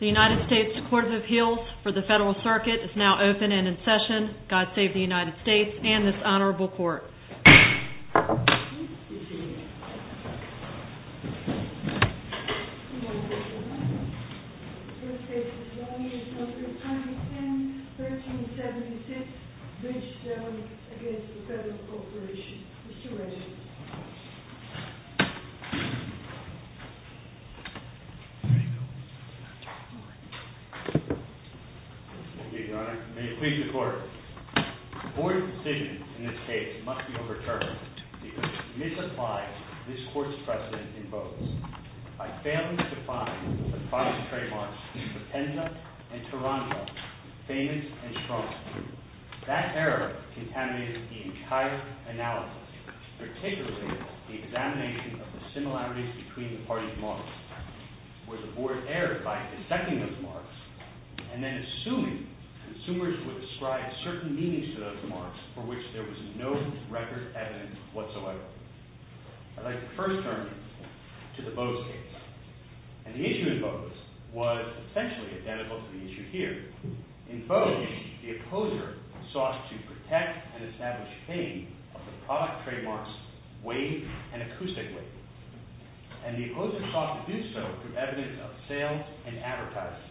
The United States Court of Appeals for the Federal Circuit is now open and in session. God Save the United States and this Honorable Court. May it please the Court, the Board's decision in this case must be overturned because it misapplies this Court's precedent in both. I fail to define the five trademarks for Penza and Taranto, famous and strong. That error contaminates the entire analysis, particularly the examination of the similarities between the parties' marks, where the Board erred by dissecting those marks and then assuming consumers would ascribe certain meanings to those marks for which there was no record evidence whatsoever. I'd like to first turn to the Bose case, and the issue in Bose was essentially identical to the issue here. In Bose, the opposer sought to protect and establish fame of the product trademark's weight and acoustic weight, and the opposer sought to do so through evidence of sales and advertising,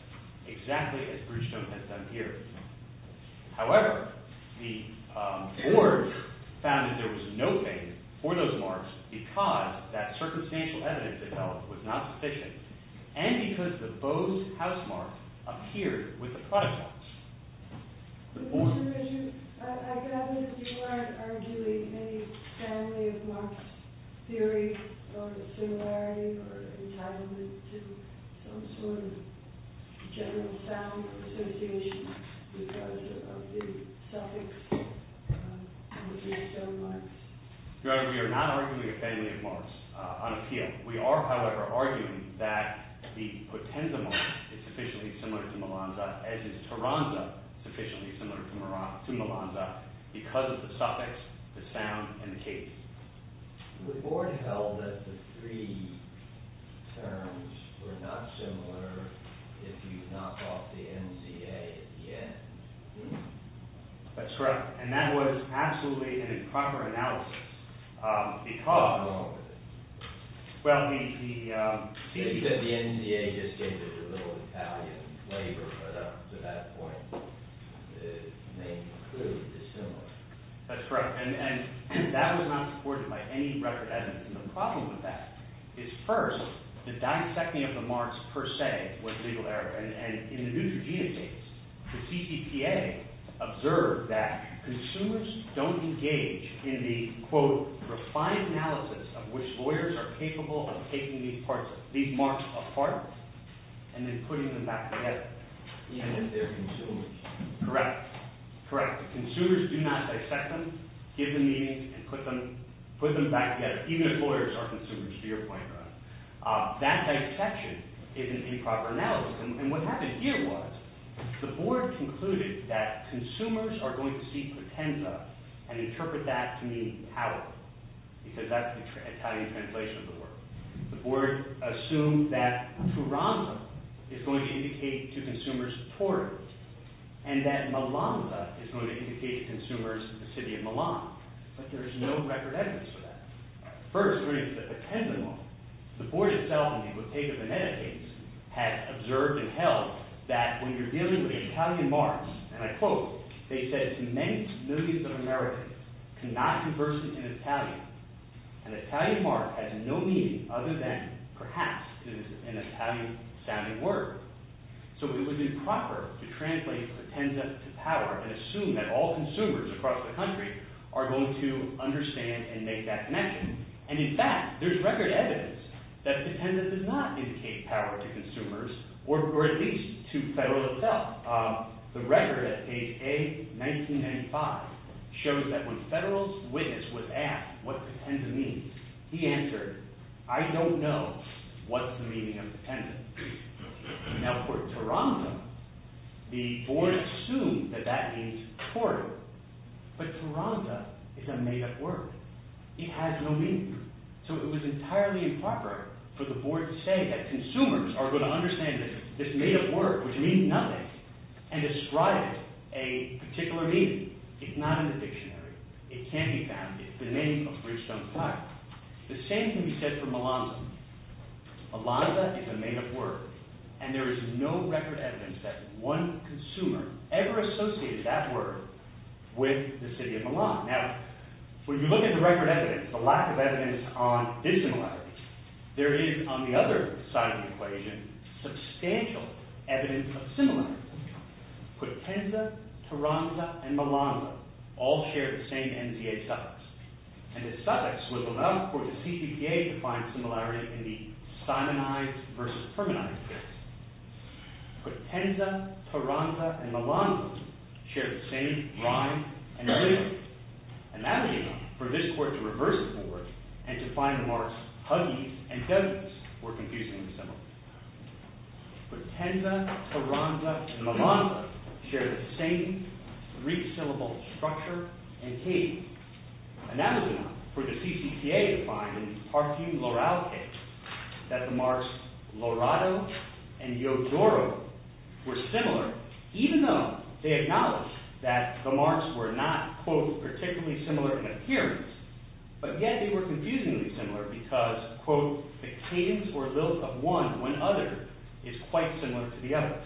exactly as Bridgestone has done here. However, the Board found that there was no fame for those marks because that circumstantial evidence it held was not sufficient, and because the Bose housemark appeared with the product marks. Mr. Bishop, I gather that you aren't arguing any family of marks theory or dissimilarity or entitlement to some sort of general sound association because of the suffix of Bridgestone marks. Your Honor, we are not arguing a family of marks on appeal. We are, however, arguing that the Potenza mark is sufficiently similar to Melanza, as is Taranto sufficiently similar to Melanza, because of the suffix, the sound, and the case. The Board held that the three terms were not similar if you knock off the NCA at the end. That's correct, and that was absolutely an improper analysis because… What's wrong with it? Well, the… Maybe that the NCA just gave it a little Italian flavor, but up to that point, it may include dissimilarity. That's correct, and that was not supported by any record evidence, and the problem with that is, first, the dissecting of the marks, per se, was legal error, and in the Neutrogena case, the CCPA observed that consumers don't engage in the, quote, refined analysis of which lawyers are capable of taking these marks apart and then putting them back together. Even if they're consumers. Correct, correct. Consumers do not dissect them, give them meanings, and put them back together, even if lawyers are consumers, to your point, Ron. That dissection is an improper analysis, and what happened here was the Board concluded that consumers are going to see Potenza and interpret that to mean power, because that's the Italian translation of the word. The Board assumed that Toronto is going to indicate to consumers Tori, and that Malanga is going to indicate to consumers the city of Milan, but there is no record evidence for that. First, the Potenza law. The Board itself, in the Bottega Veneta case, had observed and held that when you're dealing with Italian marks, and I quote, they said, many millions of Americans cannot converse in Italian, and Italian mark has no meaning other than, perhaps, an Italian-sounding word. So it was improper to translate Potenza to power and assume that all consumers across the country are going to understand and make that connection, and in fact, there's record evidence that Potenza does not indicate power to consumers, or at least to Federal itself. The record at page A, 1995, shows that when Federal's witness was asked what Potenza means, he answered, I don't know what's the meaning of Potenza. Now, for Toronto, the Board assumed that that means Tori, but Toronto is a made-up word. It has no meaning. So it was entirely improper for the Board to say that consumers are going to understand this made-up word, which means nothing, and describe it a particular meaning. It's not in the dictionary. It can't be found. It's the name of Bridgestone Park. The same can be said for Milanza. Milanza is a made-up word, and there is no record evidence that one consumer ever associated that word with the city of Milan. Now, when you look at the record evidence, the lack of evidence on dissimilarity, there is, on the other side of the equation, substantial evidence of similarity. Potenza, Toronto, and Milanza all share the same NDA suffix, and this suffix was enough for the CPDA to find similarity in the Simonides versus Fermanides case. Potenza, Toronto, and Milanza share the same rhyme and rhythm, and that was enough for this Court to reverse the Board and to find the marks Huggies and Dozens were confusingly similar. Potenza, Toronto, and Milanza share the same three-syllable structure and cadence, and that was enough for the CPDA to find, in the Parthian-Loral case, that the marks Lorato and Yodoro were similar, even though they acknowledged that the marks were not, quote, particularly similar in appearance, but yet they were confusingly similar because, quote, the cadence or lilt of one when other is quite similar to the other.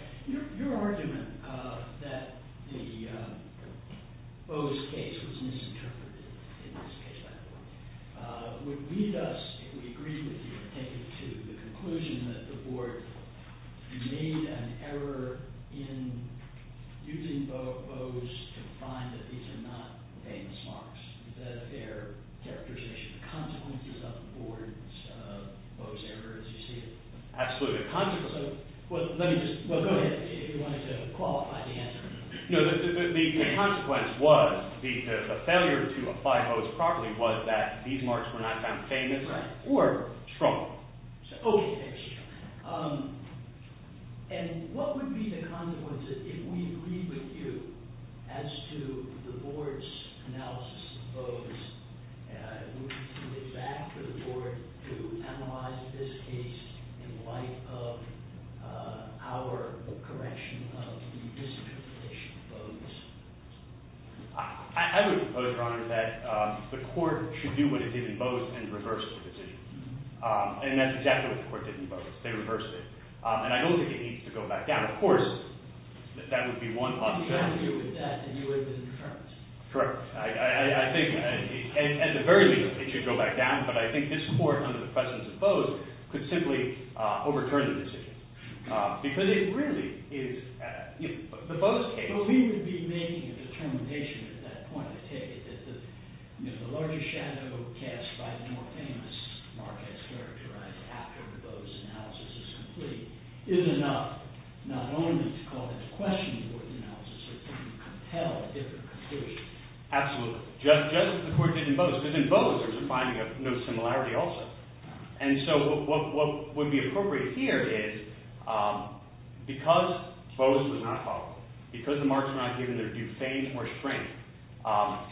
Your argument that the Bowes case was misinterpreted, in this case, would lead us, if we agree with you, to take it to the conclusion that the Board made an error in using Bowes to find that these are not famous marks, that their characterization of consequences of the Board's Bowes error, as you see it. Absolutely, the consequences. Well, let me just, well, go ahead, if you wanted to qualify the answer. No, the consequence was, the failure to apply Bowes properly was that these marks were not found famous or strong. Oh, OK. And what would be the consequence, if we agree with you, as to the Board's analysis of Bowes? Would you turn it back to the Board to analyze this case in light of our correction of the misinterpretation of Bowes? I would propose, Your Honor, that the court should do what it did in Bowes and reverse the decision. And that's exactly what the court did in Bowes. They reversed it. And I don't think it needs to go back down. Of course, that would be one possibility. You don't agree with that. And you wouldn't turn it. Correct. I think, at the very least, it should go back down. But I think this court, under the presence of Bowes, could simply overturn the decision. Because it really is, you know, the Bowes case. So we would be making a determination at that point, I take it, that the larger shadow cast by the more famous mark as characterized after the Bowes analysis is complete is enough not only to call into question the Board's analysis, but to compel a different conclusion. Absolutely. Just as the court did in Bowes. Because in Bowes, there's a finding of no similarity also. And so what would be appropriate here is, because Bowes was not called, because the marks were not given their due fame or strength,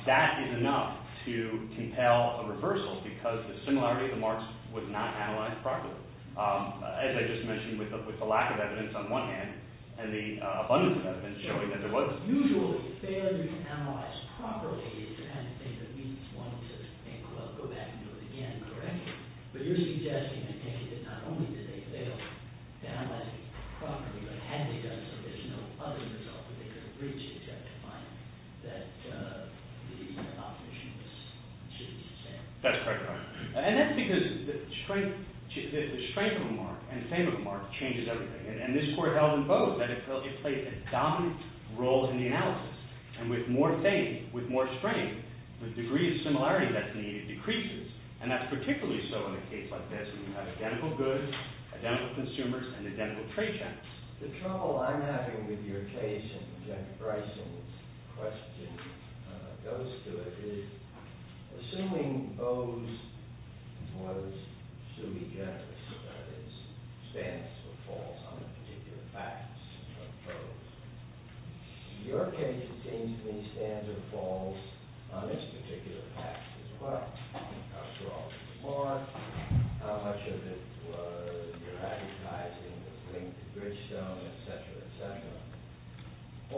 that is enough to compel a reversal, because the similarity of the marks was not analyzed properly. As I just mentioned, with the lack of evidence on one hand, and the abundance of evidence showing that there was. But usually, failure to analyze properly is the kind of thing that leads one to think, well, go back and do it again. Correct? But you're suggesting, I take it, that not only did they fail to analyze it properly, but had they done so, there's no other result that they could have reached except to find that the opposition was consistent. That's correct. And that's because the strength of a mark and fame of a mark changes everything. And this court held in Bowes that it played a dominant role in the analysis. And with more fame, with more strength, the degree of similarity that's needed decreases. And that's particularly so in a case like this. You have identical goods, identical consumers, and identical trade channels. The trouble I'm having with your case and with Jennifer Bryson's question goes to it is, assuming Bowes was sui generis, that is, stands or falls on the particular facts of Bowes, your case, it seems to me, stands or falls on this particular fact as well. How strong was the mark? How much of it was erraticizing the link to Bridgestone, et cetera, et cetera.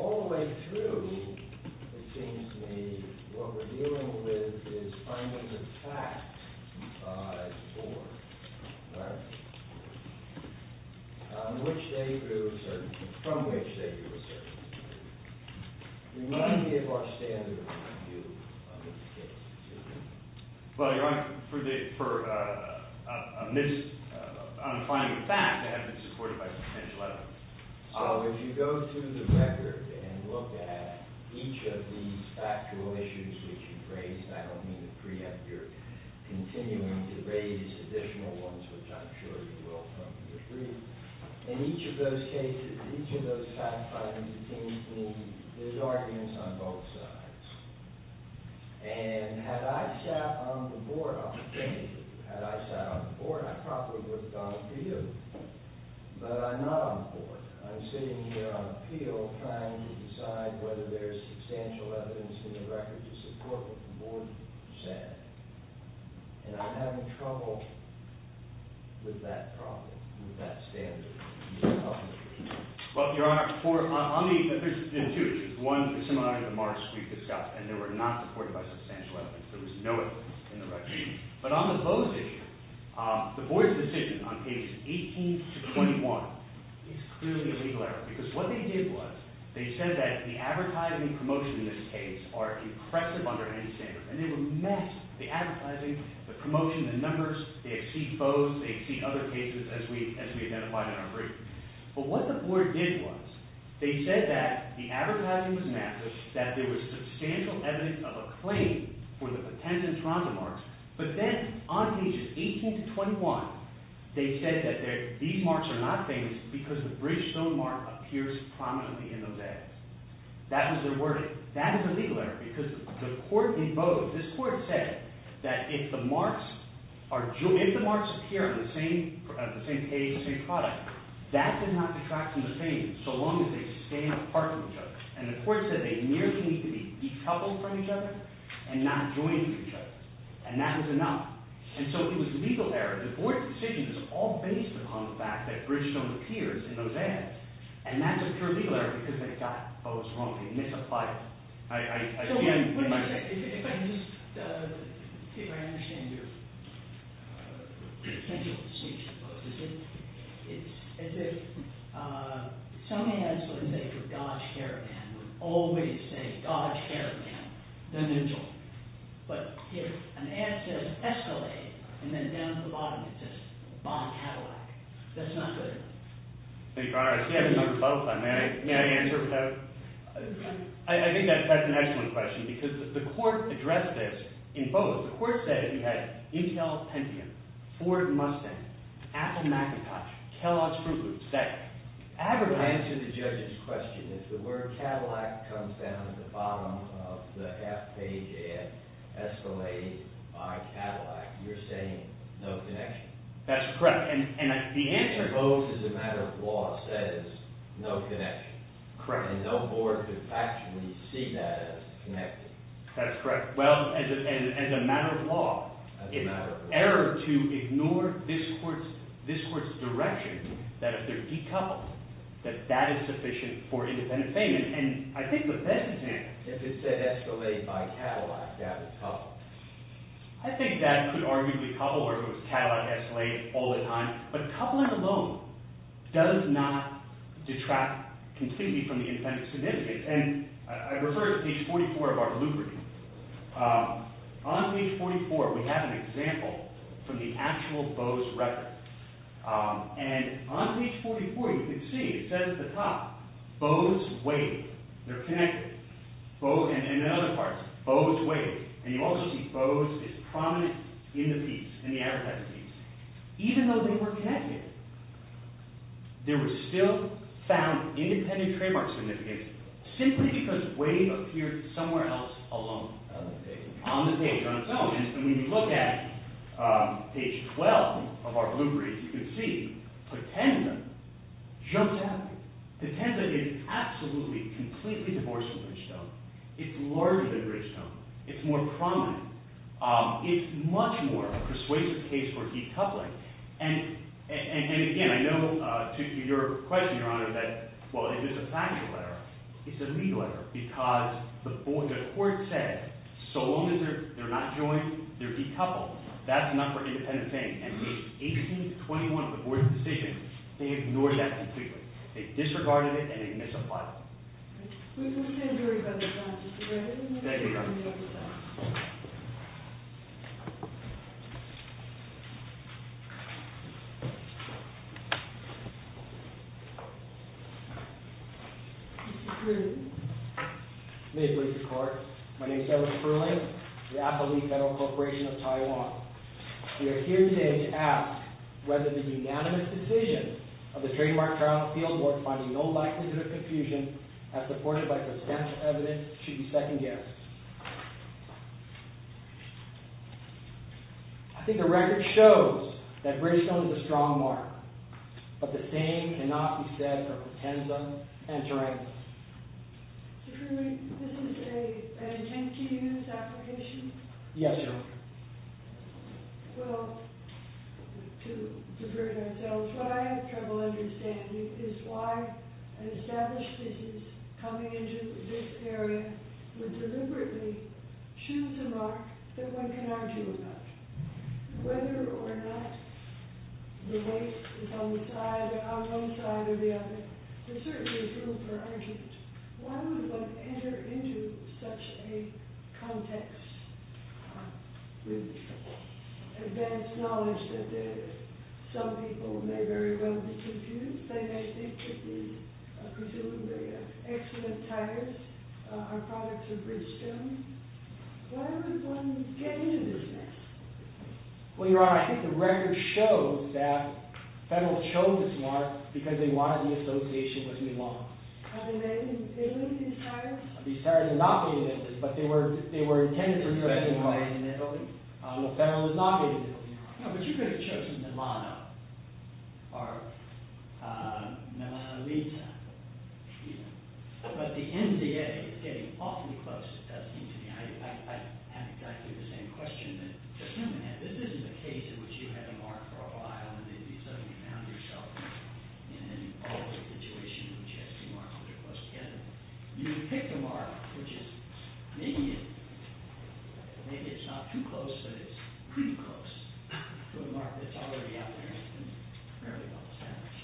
All the way through, it seems to me, what we're dealing with is finding the fact as it were, right, from which they drew a certain conclusion. We need to give our standard of what to do under this case. Well, you're asking for a mis- I'm finding the fact to have been supported by some potential evidence. So if you go through the record and look at each of these factual issues that you've raised, and I don't mean to preempt your continuing to raise additional ones, which I'm sure you will from your brief, in each of those cases, each of those fact-findings, it seems to me, there's arguments on both sides. And had I sat on the board, I probably would have gone to appeal, but I'm not on the board. I'm sitting here on appeal trying to decide whether there's substantial evidence in the record to support what the board said. And I'm having trouble with that problem, with that standard. Well, Your Honor, for- on the- there's two issues. One, the Seminaries of March we've discussed, and they were not supported by substantial evidence. There was no evidence in the record. But on the Bowes issue, the board's decision on pages 18 to 21 is clearly a legal error, because what they did was they said that the advertising and promotion in this case are impressive under any standard. And they were masked, the advertising, the promotion, the numbers. They had seen Bowes. They had seen other cases, as we identified in our brief. But what the board did was, they said that the advertising was masked, that there was substantial evidence of a claim for the potential Toronto marks. But then on pages 18 to 21, they said that these marks are not famous because the Bridgestone mark appears prominently in those edits. That was their wording. So that is a legal error, because the court in Bowes, this court said that if the marks appear on the same page, the same product, that did not detract from the claim so long as they stay apart from each other. And the court said they merely need to be decoupled from each other and not joined from each other. And that was enough. And so it was a legal error. The board's decision is all based upon the fact that Bridgestone appears in those edits. And that's a pure legal error, because they got Bowes wrong. They misapplied it. So what do you say? If I understand your potential speech, it's as if some ads wouldn't say for Dodge Caravan, would always say Dodge Caravan, then Mitchell. But if an ad says Escalade, and then down at the bottom it says Bond Cadillac, that's not good. Your Honor, I see you have a number for both of them. May I answer? I think that's an excellent question, because the court addressed this in Bowes. The court said if you had Intel Pentium, Ford Mustang, Apple Macintosh, Kellogg's Fruit Loops, say it. I would answer the judge's question. If the word Cadillac comes down at the bottom of the half page ad, Escalade by Cadillac, you're saying no connection. That's correct. Bowes, as a matter of law, says no connection. Correct. And no board could actually see that as connected. That's correct. Well, as a matter of law, it's an error to ignore this court's direction, that if they're decoupled, that that is sufficient for independent payment. And I think the best example— If it said Escalade by Cadillac, that is coupled. I think that could arguably couple, or if it was Cadillac, Escalade, all the time. But coupling alone does not detract completely from the independent significance. And I refer to page 44 of our blue brief. On page 44, we have an example from the actual Bowes record. And on page 44, you can see it says at the top, Bowes waited. They're connected. And in other parts, Bowes waited. And you also see Bowes is prominent in the piece, in the advertising piece. Even though they were connected, there was still found independent trademark significance, simply because Wave appeared somewhere else alone. On the page, on its own. And when you look at page 12 of our blue brief, you can see Potenda jumps out. Potenda is absolutely, completely divorced from Bridgestone. It's larger than Bridgestone. It's more prominent. It's much more persuasive case for decoupling. And again, I know to your question, Your Honor, that, well, it is a factual error. It's a legal error. Because the court said, so long as they're not joined, they're decoupled. That's not for independent saying. And page 18 to 21 of the board's decision, they ignored that completely. They disregarded it, and they misapplied it. We can't hear you very well, Your Honor. Thank you, Your Honor. Mr. Krueger. May it please the court. My name is Kevin Krueger, the Appellee Federal Corporation of Taiwan. We are here today to ask whether the unanimous decision of the trademark trial field board finding no likelihood of confusion, as supported by potential evidence, should be second guessed. I think the record shows that Bridgestone is a strong mark. But the same cannot be said for Potenda and Tarango. Yes, Your Honor. Well, to prove it ourselves, what I have trouble understanding is why an established thesis coming into this area would deliberately choose a mark that one can argue about. Whether or not the weight is on one side or the other, there certainly is room for argument. Why would one enter into such a context? I have advanced knowledge that some people may very well be confused. They may think that the, presumably, excellent tires are products of Bridgestone. Why would one get into this mess? Well, Your Honor, I think the record shows that the Federal chose this mark because they wanted the association with Milan. Are they made in Italy, these tires? These tires are not made in Italy, but they were intended for use in Milan. Are they made in Italy? The Federal is not made in Italy. No, but you could have chosen Milano or Milano-Lisa. Excuse me. But the NDA is getting awfully close, it does seem to me. I have exactly the same question that Judge Newman had. This isn't a case in which you had a mark for a while, and then all of a sudden you found yourself in an alternate situation in which you have two marks that are close together. And you pick the mark which is, maybe it's not too close, but it's pretty close to a mark that's already out there, and it's fairly well established.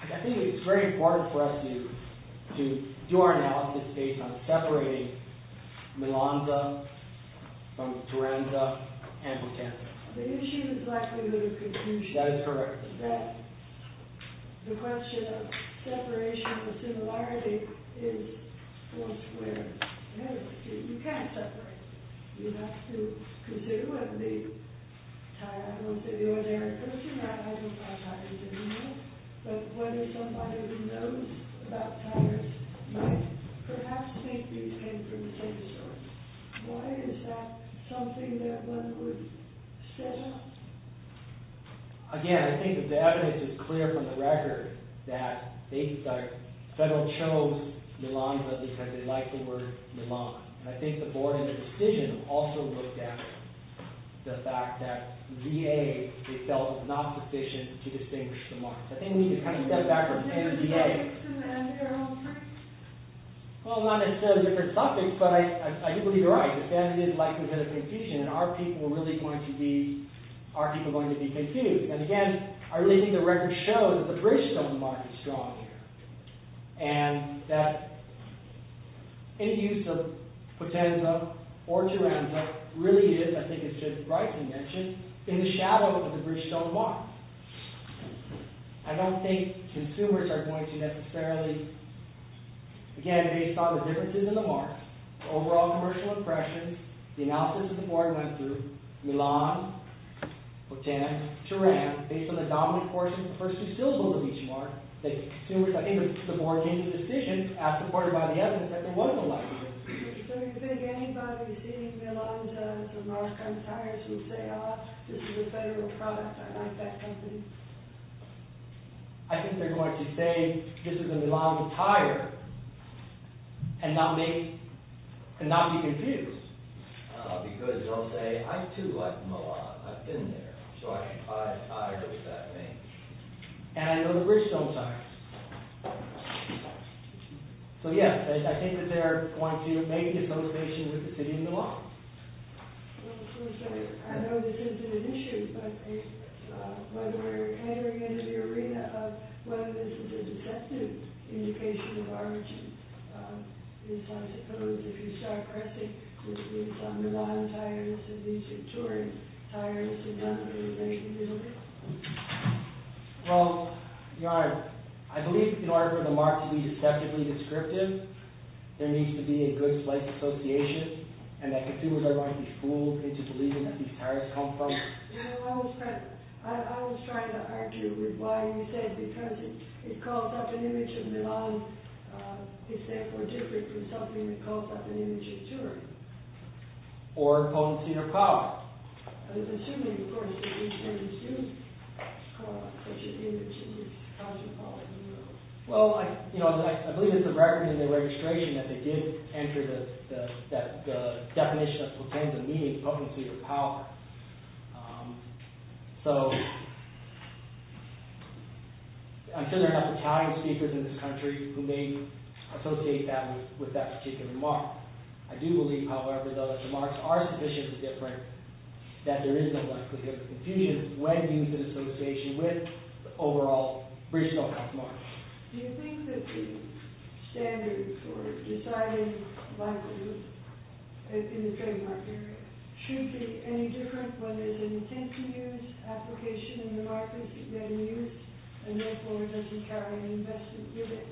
I think it's very important for us to do our analysis based on separating Milano from Firenze and Potemkin. The issue is likelihood of confusion. That is correct. The question of separation of a similarity is four squared. You can't separate them. You'd have to consider what the tire, I don't know if they do it there in Italy or not, I don't know how tires are made, but whether somebody who knows about tires might perhaps think these came from the same source. Why is that something that one would step up? Again, I think the evidence is clear from the record that Federal chose Milano because they liked the word Milano. And I think the board in the decision also looked at the fact that VA itself was not sufficient to distinguish the marks. I think we need to kind of step backwards and look at VA. Well, not necessarily different subjects, but I do believe you're right. Ben did likelihood of confusion, and are people really going to be confused? And again, I really think the record shows that the Bridgestone mark is strong here, and that any use of Potemkin or Firenze really is, I think it's just rightly mentioned, in the shadow of the Bridgestone mark. I don't think consumers are going to necessarily, again, based on the differences in the marks, overall commercial impressions, the analysis that the board went through, Milano, Potemkin, Teran, based on the dominant course of the first two syllables of each mark, that consumers, I think the board made the decision, as supported by the evidence, that there was a likelihood. So you think anybody seeing Milano tires would say, oh, this is a Federal product, I like that company? I think they're going to say, this is a Milano tire, and not be confused. Because they'll say, I, too, like Milano. I've been there. So I can buy a tire with that name. And I know the Bridgestone tires. So yes, I think that they're going to maybe get those patients with the city in the law. Well, of course, I know this isn't an issue. But whether we're entering into the arena of whether this is a deceptive indication of arbitration is, I suppose, if you start pressing, which means Milano tire, this would lead to Turing. Tire, this would lead to the nation building. Well, Your Honor, I believe in order for the mark to be deceptively descriptive, there consumers are going to be fooled into believing that these tires come from. I was trying to argue with why you said, because it calls up an image of Milano. It's therefore different from something that calls up an image of Turing. Or a policy of power. I was assuming, of course, that Bridgestone assumes such an image as a policy of power. Well, you know, I believe it's a record in the registration that they did enter the definition of potenza, meaning policy of power. So, I'm sure there are enough Italian speakers in this country who may associate that with that particular remark. I do believe, however, that the remarks are sufficiently different that there is no more confusion when used in association with the overall Bridgestone remark. Do you think that the standard for deciding liability in the trademark area should be any different when there's an intent to use, application in the market to get used, and therefore does he carry an investment with it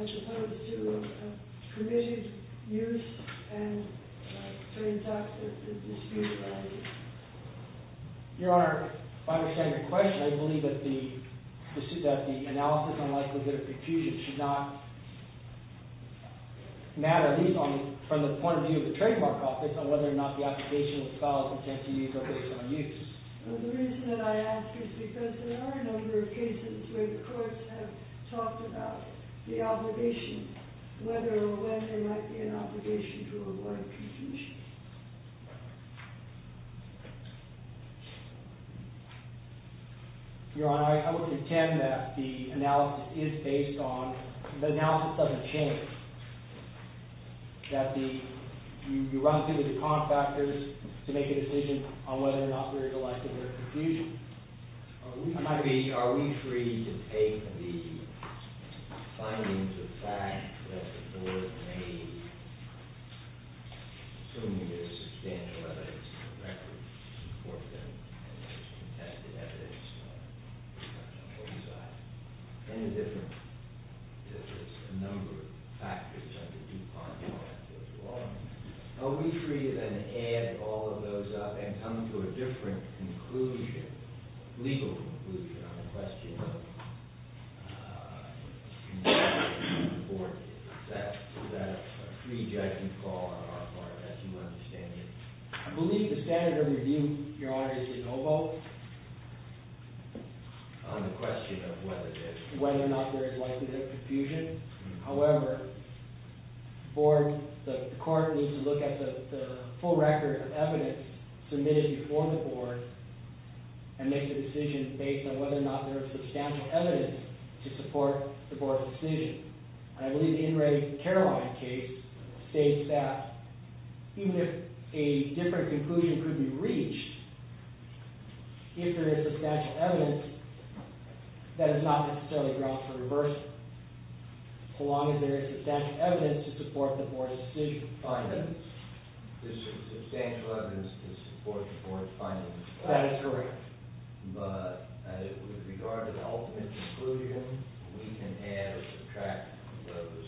as opposed to a permissioned use and a Your Honor, if I understand your question, I believe that the analysis on likelihood of confusion should not matter, at least from the point of view of the trademark office, on whether or not the application follows intent to use or based on use. Well, the reason that I ask is because there are a number of cases where the courts have talked about the obligation, whether or when there might be an obligation to avoid confusion. Your Honor, I would contend that the analysis is based on, the analysis doesn't change. That the, you run through the con factors to make a decision on whether or not there is a likelihood of confusion. Are we free to take the findings of fact that the court may, assuming there's substantial evidence to support them, and there's contested evidence on both sides? Any difference? There's a number of factors under the DuPont Act as well. Are we free to then add all of those up and come to a different conclusion, legal conclusion on the question of, is it important that a free judge be called on our part, as you understand it? I believe the standard of review, Your Honor, is de novo. On the question of whether there is. Whether or not there is likelihood of confusion. However, the court needs to look at the full record of evidence submitted before the board and make the decision based on whether or not there is substantial evidence to support the board's decision. I believe the In re Caroline case states that even if a different conclusion could be reached, if there is substantial evidence, that is not necessarily grounds for reversal. So long as there is substantial evidence to support the board's decision. This is substantial evidence to support the board's findings. That is correct. But with regard to the ultimate conclusion, we can add or subtract those.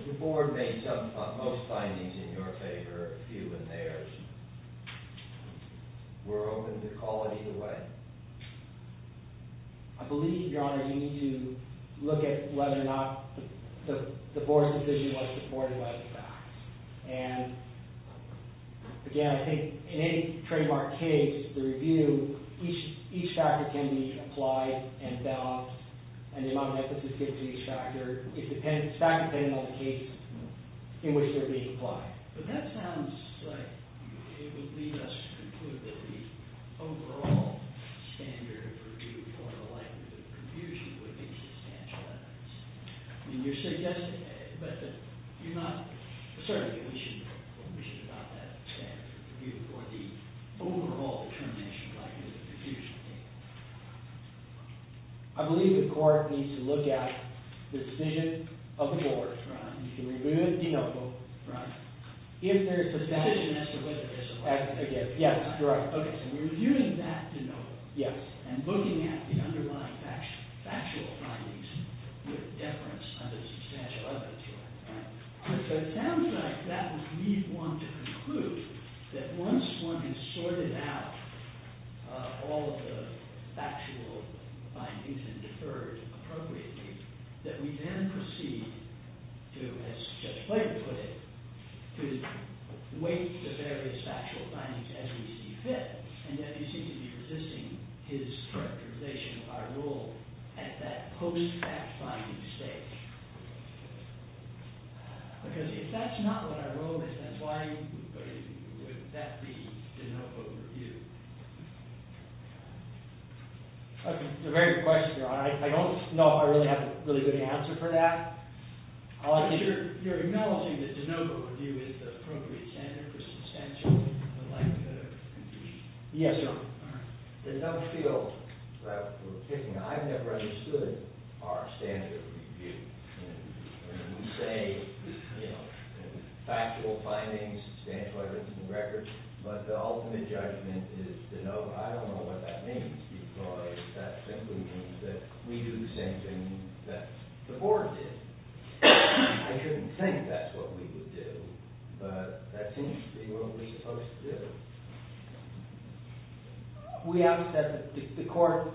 If the board makes up most findings in your favor, a few in theirs, we're open to calling either way. I believe, Your Honor, you need to look at whether or not the board's decision was supported by the facts. And, again, I think in any trademark case, the review, each factor can be applied and balanced. And the amount of emphasis given to each factor, it's not dependent on the case in which they're being applied. But that sounds like it would lead us to conclude that the overall standard of review for likelihood of confusion would be substantial evidence. I mean, you're suggesting that, but you're not... Certainly, we should adopt that standard of review for the overall determination of likelihood of confusion. I believe the court needs to look at the decision of the board. Right. You can review it de novo. Right. If there is substantial evidence... The decision as to whether there's a likelihood of confusion. Yes, correct. Okay, so we're reviewing that de novo. Yes. And looking at the underlying factual findings with deference under substantial evidence. Right. So it sounds like that would lead one to conclude that once one has sorted out all of the factual findings and deferred appropriately, that we then proceed to, as Judge Flake put it, to weight the various factual findings as we see fit. And yet, you seem to be resisting his characterization of our role at that post-factual stage. Because if that's not what our role is, then why would that be de novo review? Okay, it's a very good question, Your Honor. I don't know if I really have a really good answer for that. You're acknowledging that de novo review is the appropriate standard for substantial evidence? Yes, Your Honor. All right. The de novo field that we're picking, I've never understood our standard of review. And we say, you know, factual findings, substantial evidence, and records. But the ultimate judgment is de novo. I don't know what that means, because that simply means that we do the same thing that the Board did. I couldn't think that's what we would do, but that seems to be what we're supposed to do. We ask that the Court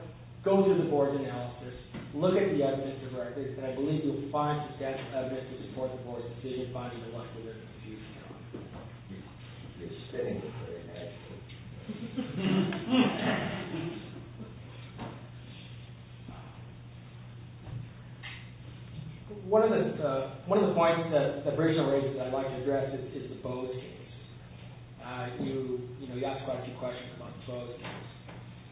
go through the Board's analysis, look at the evidence of records, and I believe you'll find substantial evidence to support the Board's decision finding the one that you're confused on. You're spinning me for a head. One of the points that Brigida raises that I'd like to address is the Bowes case. You know, you asked quite a few questions about the Bowes case.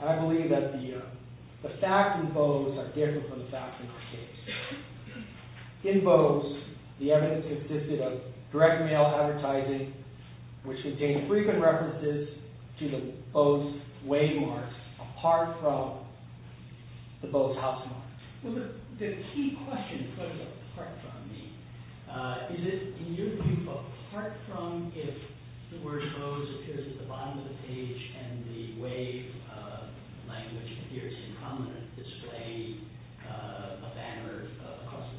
I believe that the facts in Bowes are different from the facts in the case. In Bowes, the evidence consisted of direct mail advertising, which contained frequent references to the Bowes waymark, apart from the Bowes housemark. Well, the key question puts it apart from me. Is it, in your view, apart from if the word Bowes appears at the bottom of the page and the way language appears incumbent displayed a banner across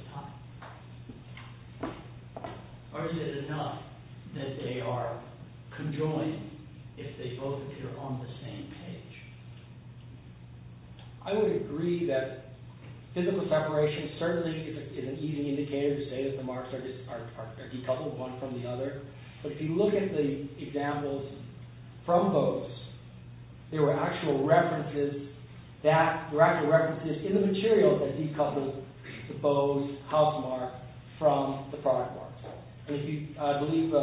the top? Or is it enough that they are conjoined if they both appear on the same page? I would agree that physical separation certainly is an easy indicator to say that the marks are decoupled one from the other. But if you look at the examples from Bowes, there were actual references in the material that decoupled the Bowes housemark from the product mark. And if you look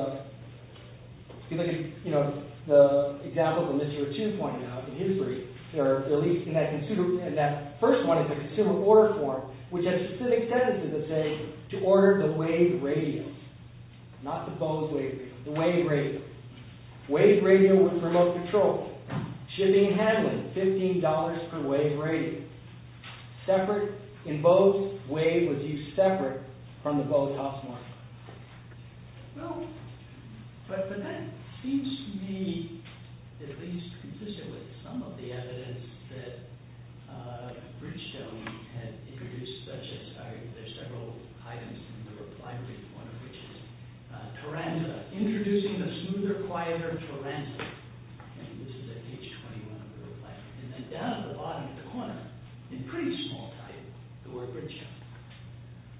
at the example that Mr. O'Toole pointed out in history, at least in that first one, it's a consumer order form, which has specific sentences that say, to order the Wade radium. Not the Bowes Wade radium. The Wade radium. Wade radium was remote controlled. Shipping and handling, $15 per Wade radium. Separate. In Bowes, Wade was used separate from the Bowes housemark. Well, but that seems to me at least consistent with some of the evidence that Bridgestone had introduced, such as, there are several items in the reply brief, one of which is Taranza. Introducing the smoother, quieter Taranza. And this is at page 21 of the reply brief. And then down at the bottom of the corner, in pretty small title, the word Bridgestone.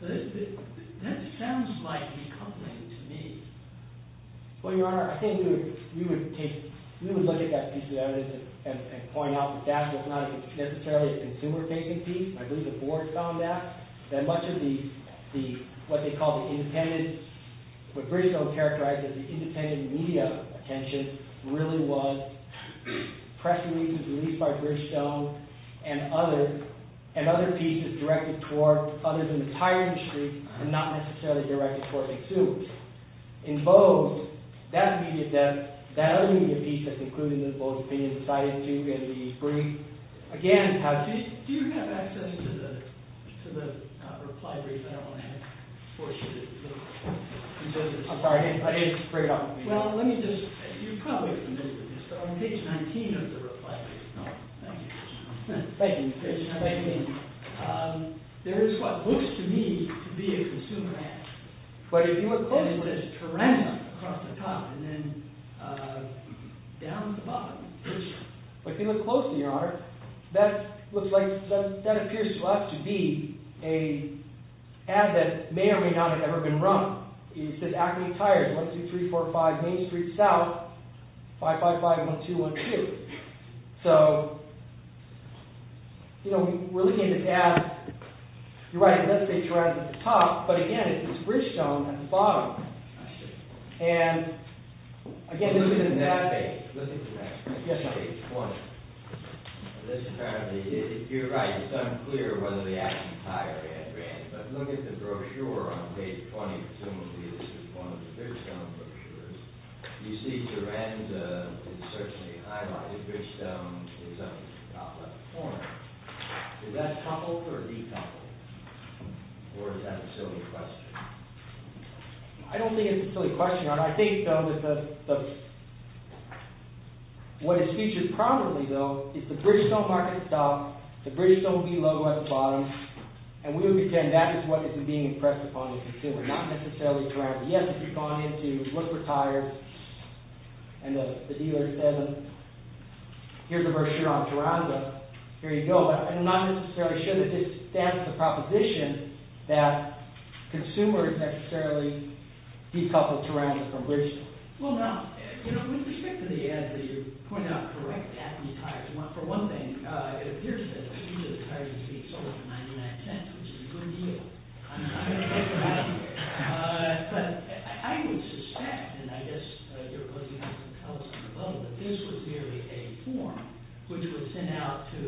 That sounds like decoupling to me. Well, your honor, I think we would take, we would look at that piece of evidence and point out that that's not necessarily a consumer-facing piece. I believe the board found that. That much of the, what they call the independent, what Bridgestone characterized as the independent media attention really was press releases released by Bridgestone and other pieces directed toward others in the entire industry, and not necessarily directed toward McSews. In Bowes, that media depth, that other media piece that's included in the Bowes opinion cited Duke and Lee's brief, again. Do you have access to the reply brief? I don't want to force you to. I'm sorry, I didn't bring it up. Well, let me just, you're probably familiar with this, but on page 19 of the reply brief. Thank you. Thank you. There is what looks to me to be a consumer ad. But if you look closely. And it says Taranza across the top, and then down at the bottom. But if you look closely, your honor, that looks like, that appears to us to be an ad that may or may not have ever been run. It says Acme Tires, 1-2-3-4-5 Main Street South, 555-1212. So, you know, we're looking at this ad. You're right, it does say Taranza at the top, but again, it's Bridgestone at the bottom. And, again, this is an ad page. Let's look at the next page. Yes, sir. Page one. You're right, it's unclear whether the Acme Tire ad ran. But look at the brochure on page 20. Presumably this is one of the Bridgestone brochures. You see Taranza is certainly highlighted. Bridgestone is on the top left corner. Is that coupled or decoupled? Or is that a silly question? I don't think it's a silly question, your honor. I think, though, that what is featured probably, though, is the Bridgestone market stock, the Bridgestone V logo at the bottom, and we would pretend that is what is being impressed upon the consumer, not necessarily Taranza. Yes, if you've gone in to look for tires and the dealer says, here's a brochure on Taranza, here you go. But I'm not necessarily sure that this stands as a proposition that consumers necessarily decouple Taranza from Bridgestone. Well, no. With respect to the ad that you pointed out, correct, Acme Tires, for one thing, it appears that it's usually the tires you see sold at 99 cents, which is a good deal. I'm not going to take them out of here. But I would suspect, and I guess you're probably going to tell us on the phone, that this was merely a form which was sent out to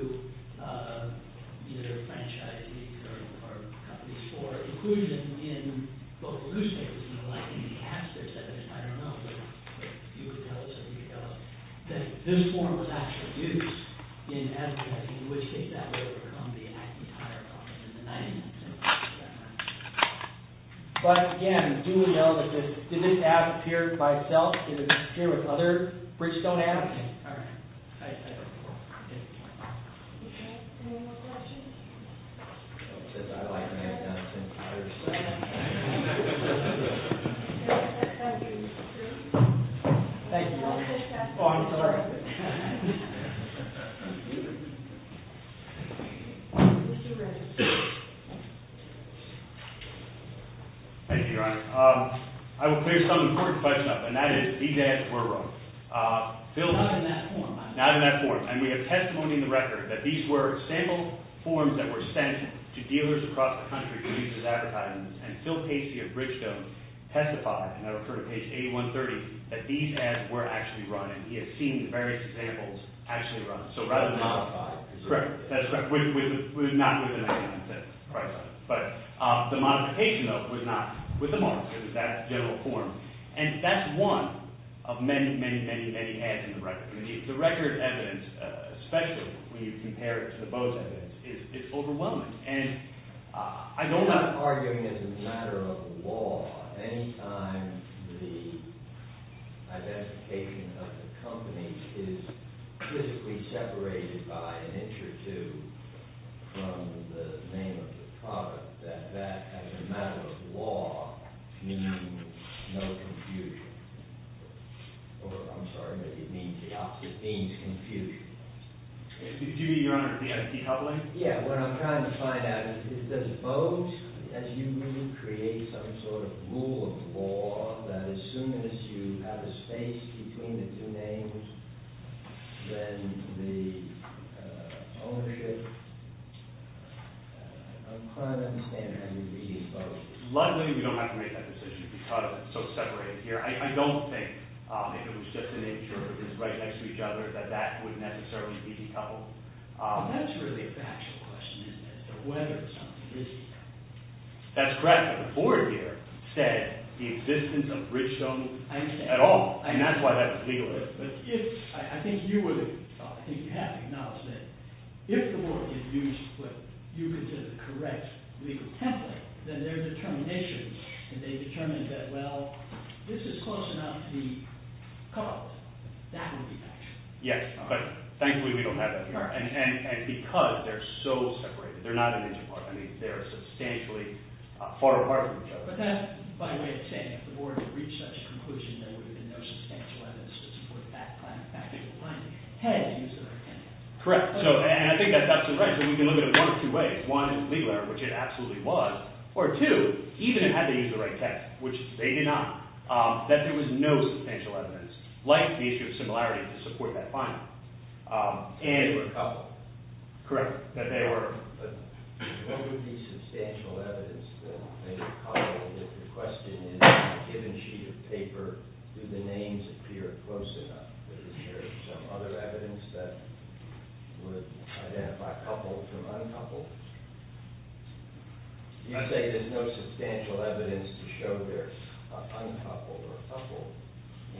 either franchisees or companies for inclusion in both newspapers. You know, like in the ads there said, I don't know, but you could tell us if you could tell us, that this form was actually used in advertising, which in that way would become the Acme Tire company in the 90s. But, again, do we know that this, did this ad appear by itself? Did it appear with other Bridgestone ad? All right. Thank you. Any more questions? I don't think I'd like to hang out at Acme Tires. Thank you. Thank you. Oh, I'm sorry. Thank you, Your Honor. I will clear some important questions up, and that is, these ads were run. Not in that form. Not in that form. And we have testimony in the record that these were sample forms that were sent to dealers across the country to use as advertising. And Phil Casey of Bridgestone testified, and I refer to page 8130, that these ads were actually run. And he has seen the various examples actually run. So rather than modify. Correct. That's right. Not with the 99 cents. But the modification, though, was not with the marks. It was that general form. And that's one of many, many, many, many ads in the record. The record evidence, especially when you compare it to the Bose evidence, is overwhelming. And I don't have to argue. I'm arguing as a matter of law, any time the identification of the company is physically separated by an inch or two from the name of the product, that that, as a matter of law, means no confusion. Or, I'm sorry, it means the opposite. It means confusion. Excuse me, Your Honor. Do you have a decoupling? Yeah. What I'm trying to find out is, does Bose, as you move, create some sort of rule of law that, as soon as you have a space between the two names, then the ownership? I'm trying to understand how you read Bose. Luckily, we don't have to make that decision because it's so separated here. I don't think, if it was just an inch or two right next to each other, that that would necessarily be decoupled. Well, that's really a factual question, isn't it, that whether something is here. That's correct. But the board here said the existence of Bridgestone at all. I understand. And that's why that's legal. But if, I think you would have to acknowledge that if the word is used what you consider the correct legal template, then their determination, if they determined that, well, this is close enough to be coupled, that would be factual. Yes. But thankfully, we don't have that here. And because they're so separated, they're not an inch apart. I mean, they're substantially far apart from each other. But that's by way of saying, if the board had reached such a conclusion there would have been no substantial evidence to support that factual finding had they used the right template. Correct. And I think that's absolutely right. So we can look at it one of two ways. One, legally, which it absolutely was. Or two, even had they used the right template, which they did not, that there was no substantial evidence, like the issue of similarity to support that finding. And they were coupled. Correct. That they were. But what would be substantial evidence that they were coupled? If the question is, in a given sheet of paper, do the names appear close enough? Is there some other evidence that would identify coupled from uncoupled? You say there's no substantial evidence to show they're uncoupled or coupled.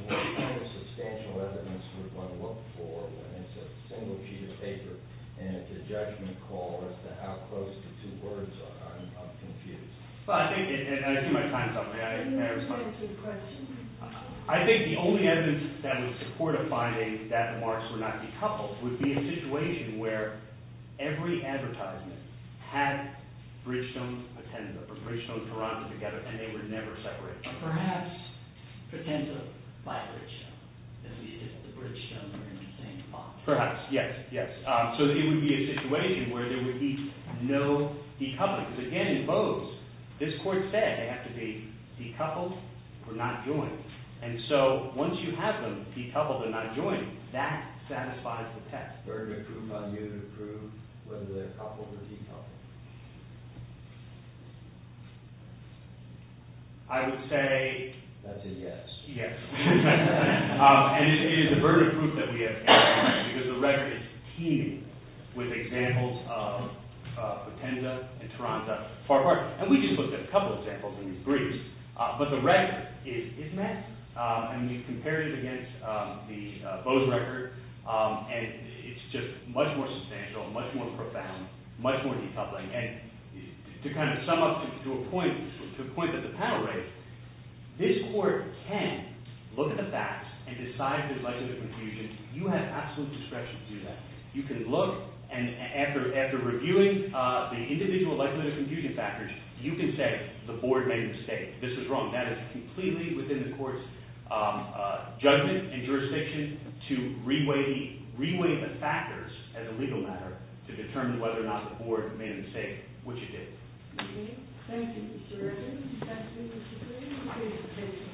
What kind of substantial evidence would one look for when it's a single sheet of paper and it's a judgment call as to how close the two words are of confused? I think the only evidence that would support a finding that the marks were not decoupled would be a situation where every advertisement had Bridgestone, Potenza, or Bridgestone, Toronto together, and they were never separated. Or perhaps Potenza by Bridgestone. If the Bridgestone were in the same box. Perhaps, yes. So it would be a situation where there would be no decoupling. Because again, in Bose, this court said they have to be decoupled or not joined. And so once you have them decoupled or not joined, that satisfies the test. Were there proofs on you to prove whether they're coupled or decoupled? I would say that's a yes. Yes. And it is a burden of proof that we have. Because the record is teeming with examples of Potenza and Toronto far apart. And we just looked at a couple of examples in Greece. But the record is massive. I mean, you compare it against the Bose record, and it's just much more substantial, much more profound, much more decoupling. And to kind of sum up to a point that the panel raised, this court can look at the facts and decide there's likelihood of confusion. You have absolute discretion to do that. You can look, and after reviewing the individual likelihood of confusion factors, you can say the board made a mistake. This is wrong. That is completely within the court's judgment and jurisdiction to re-weigh the factors as a legal matter to determine whether or not the board made a mistake, which it did. Thank you, Mr. Bergen. Thank you, Mr. Berry. Congratulations. Thank you. Thank you.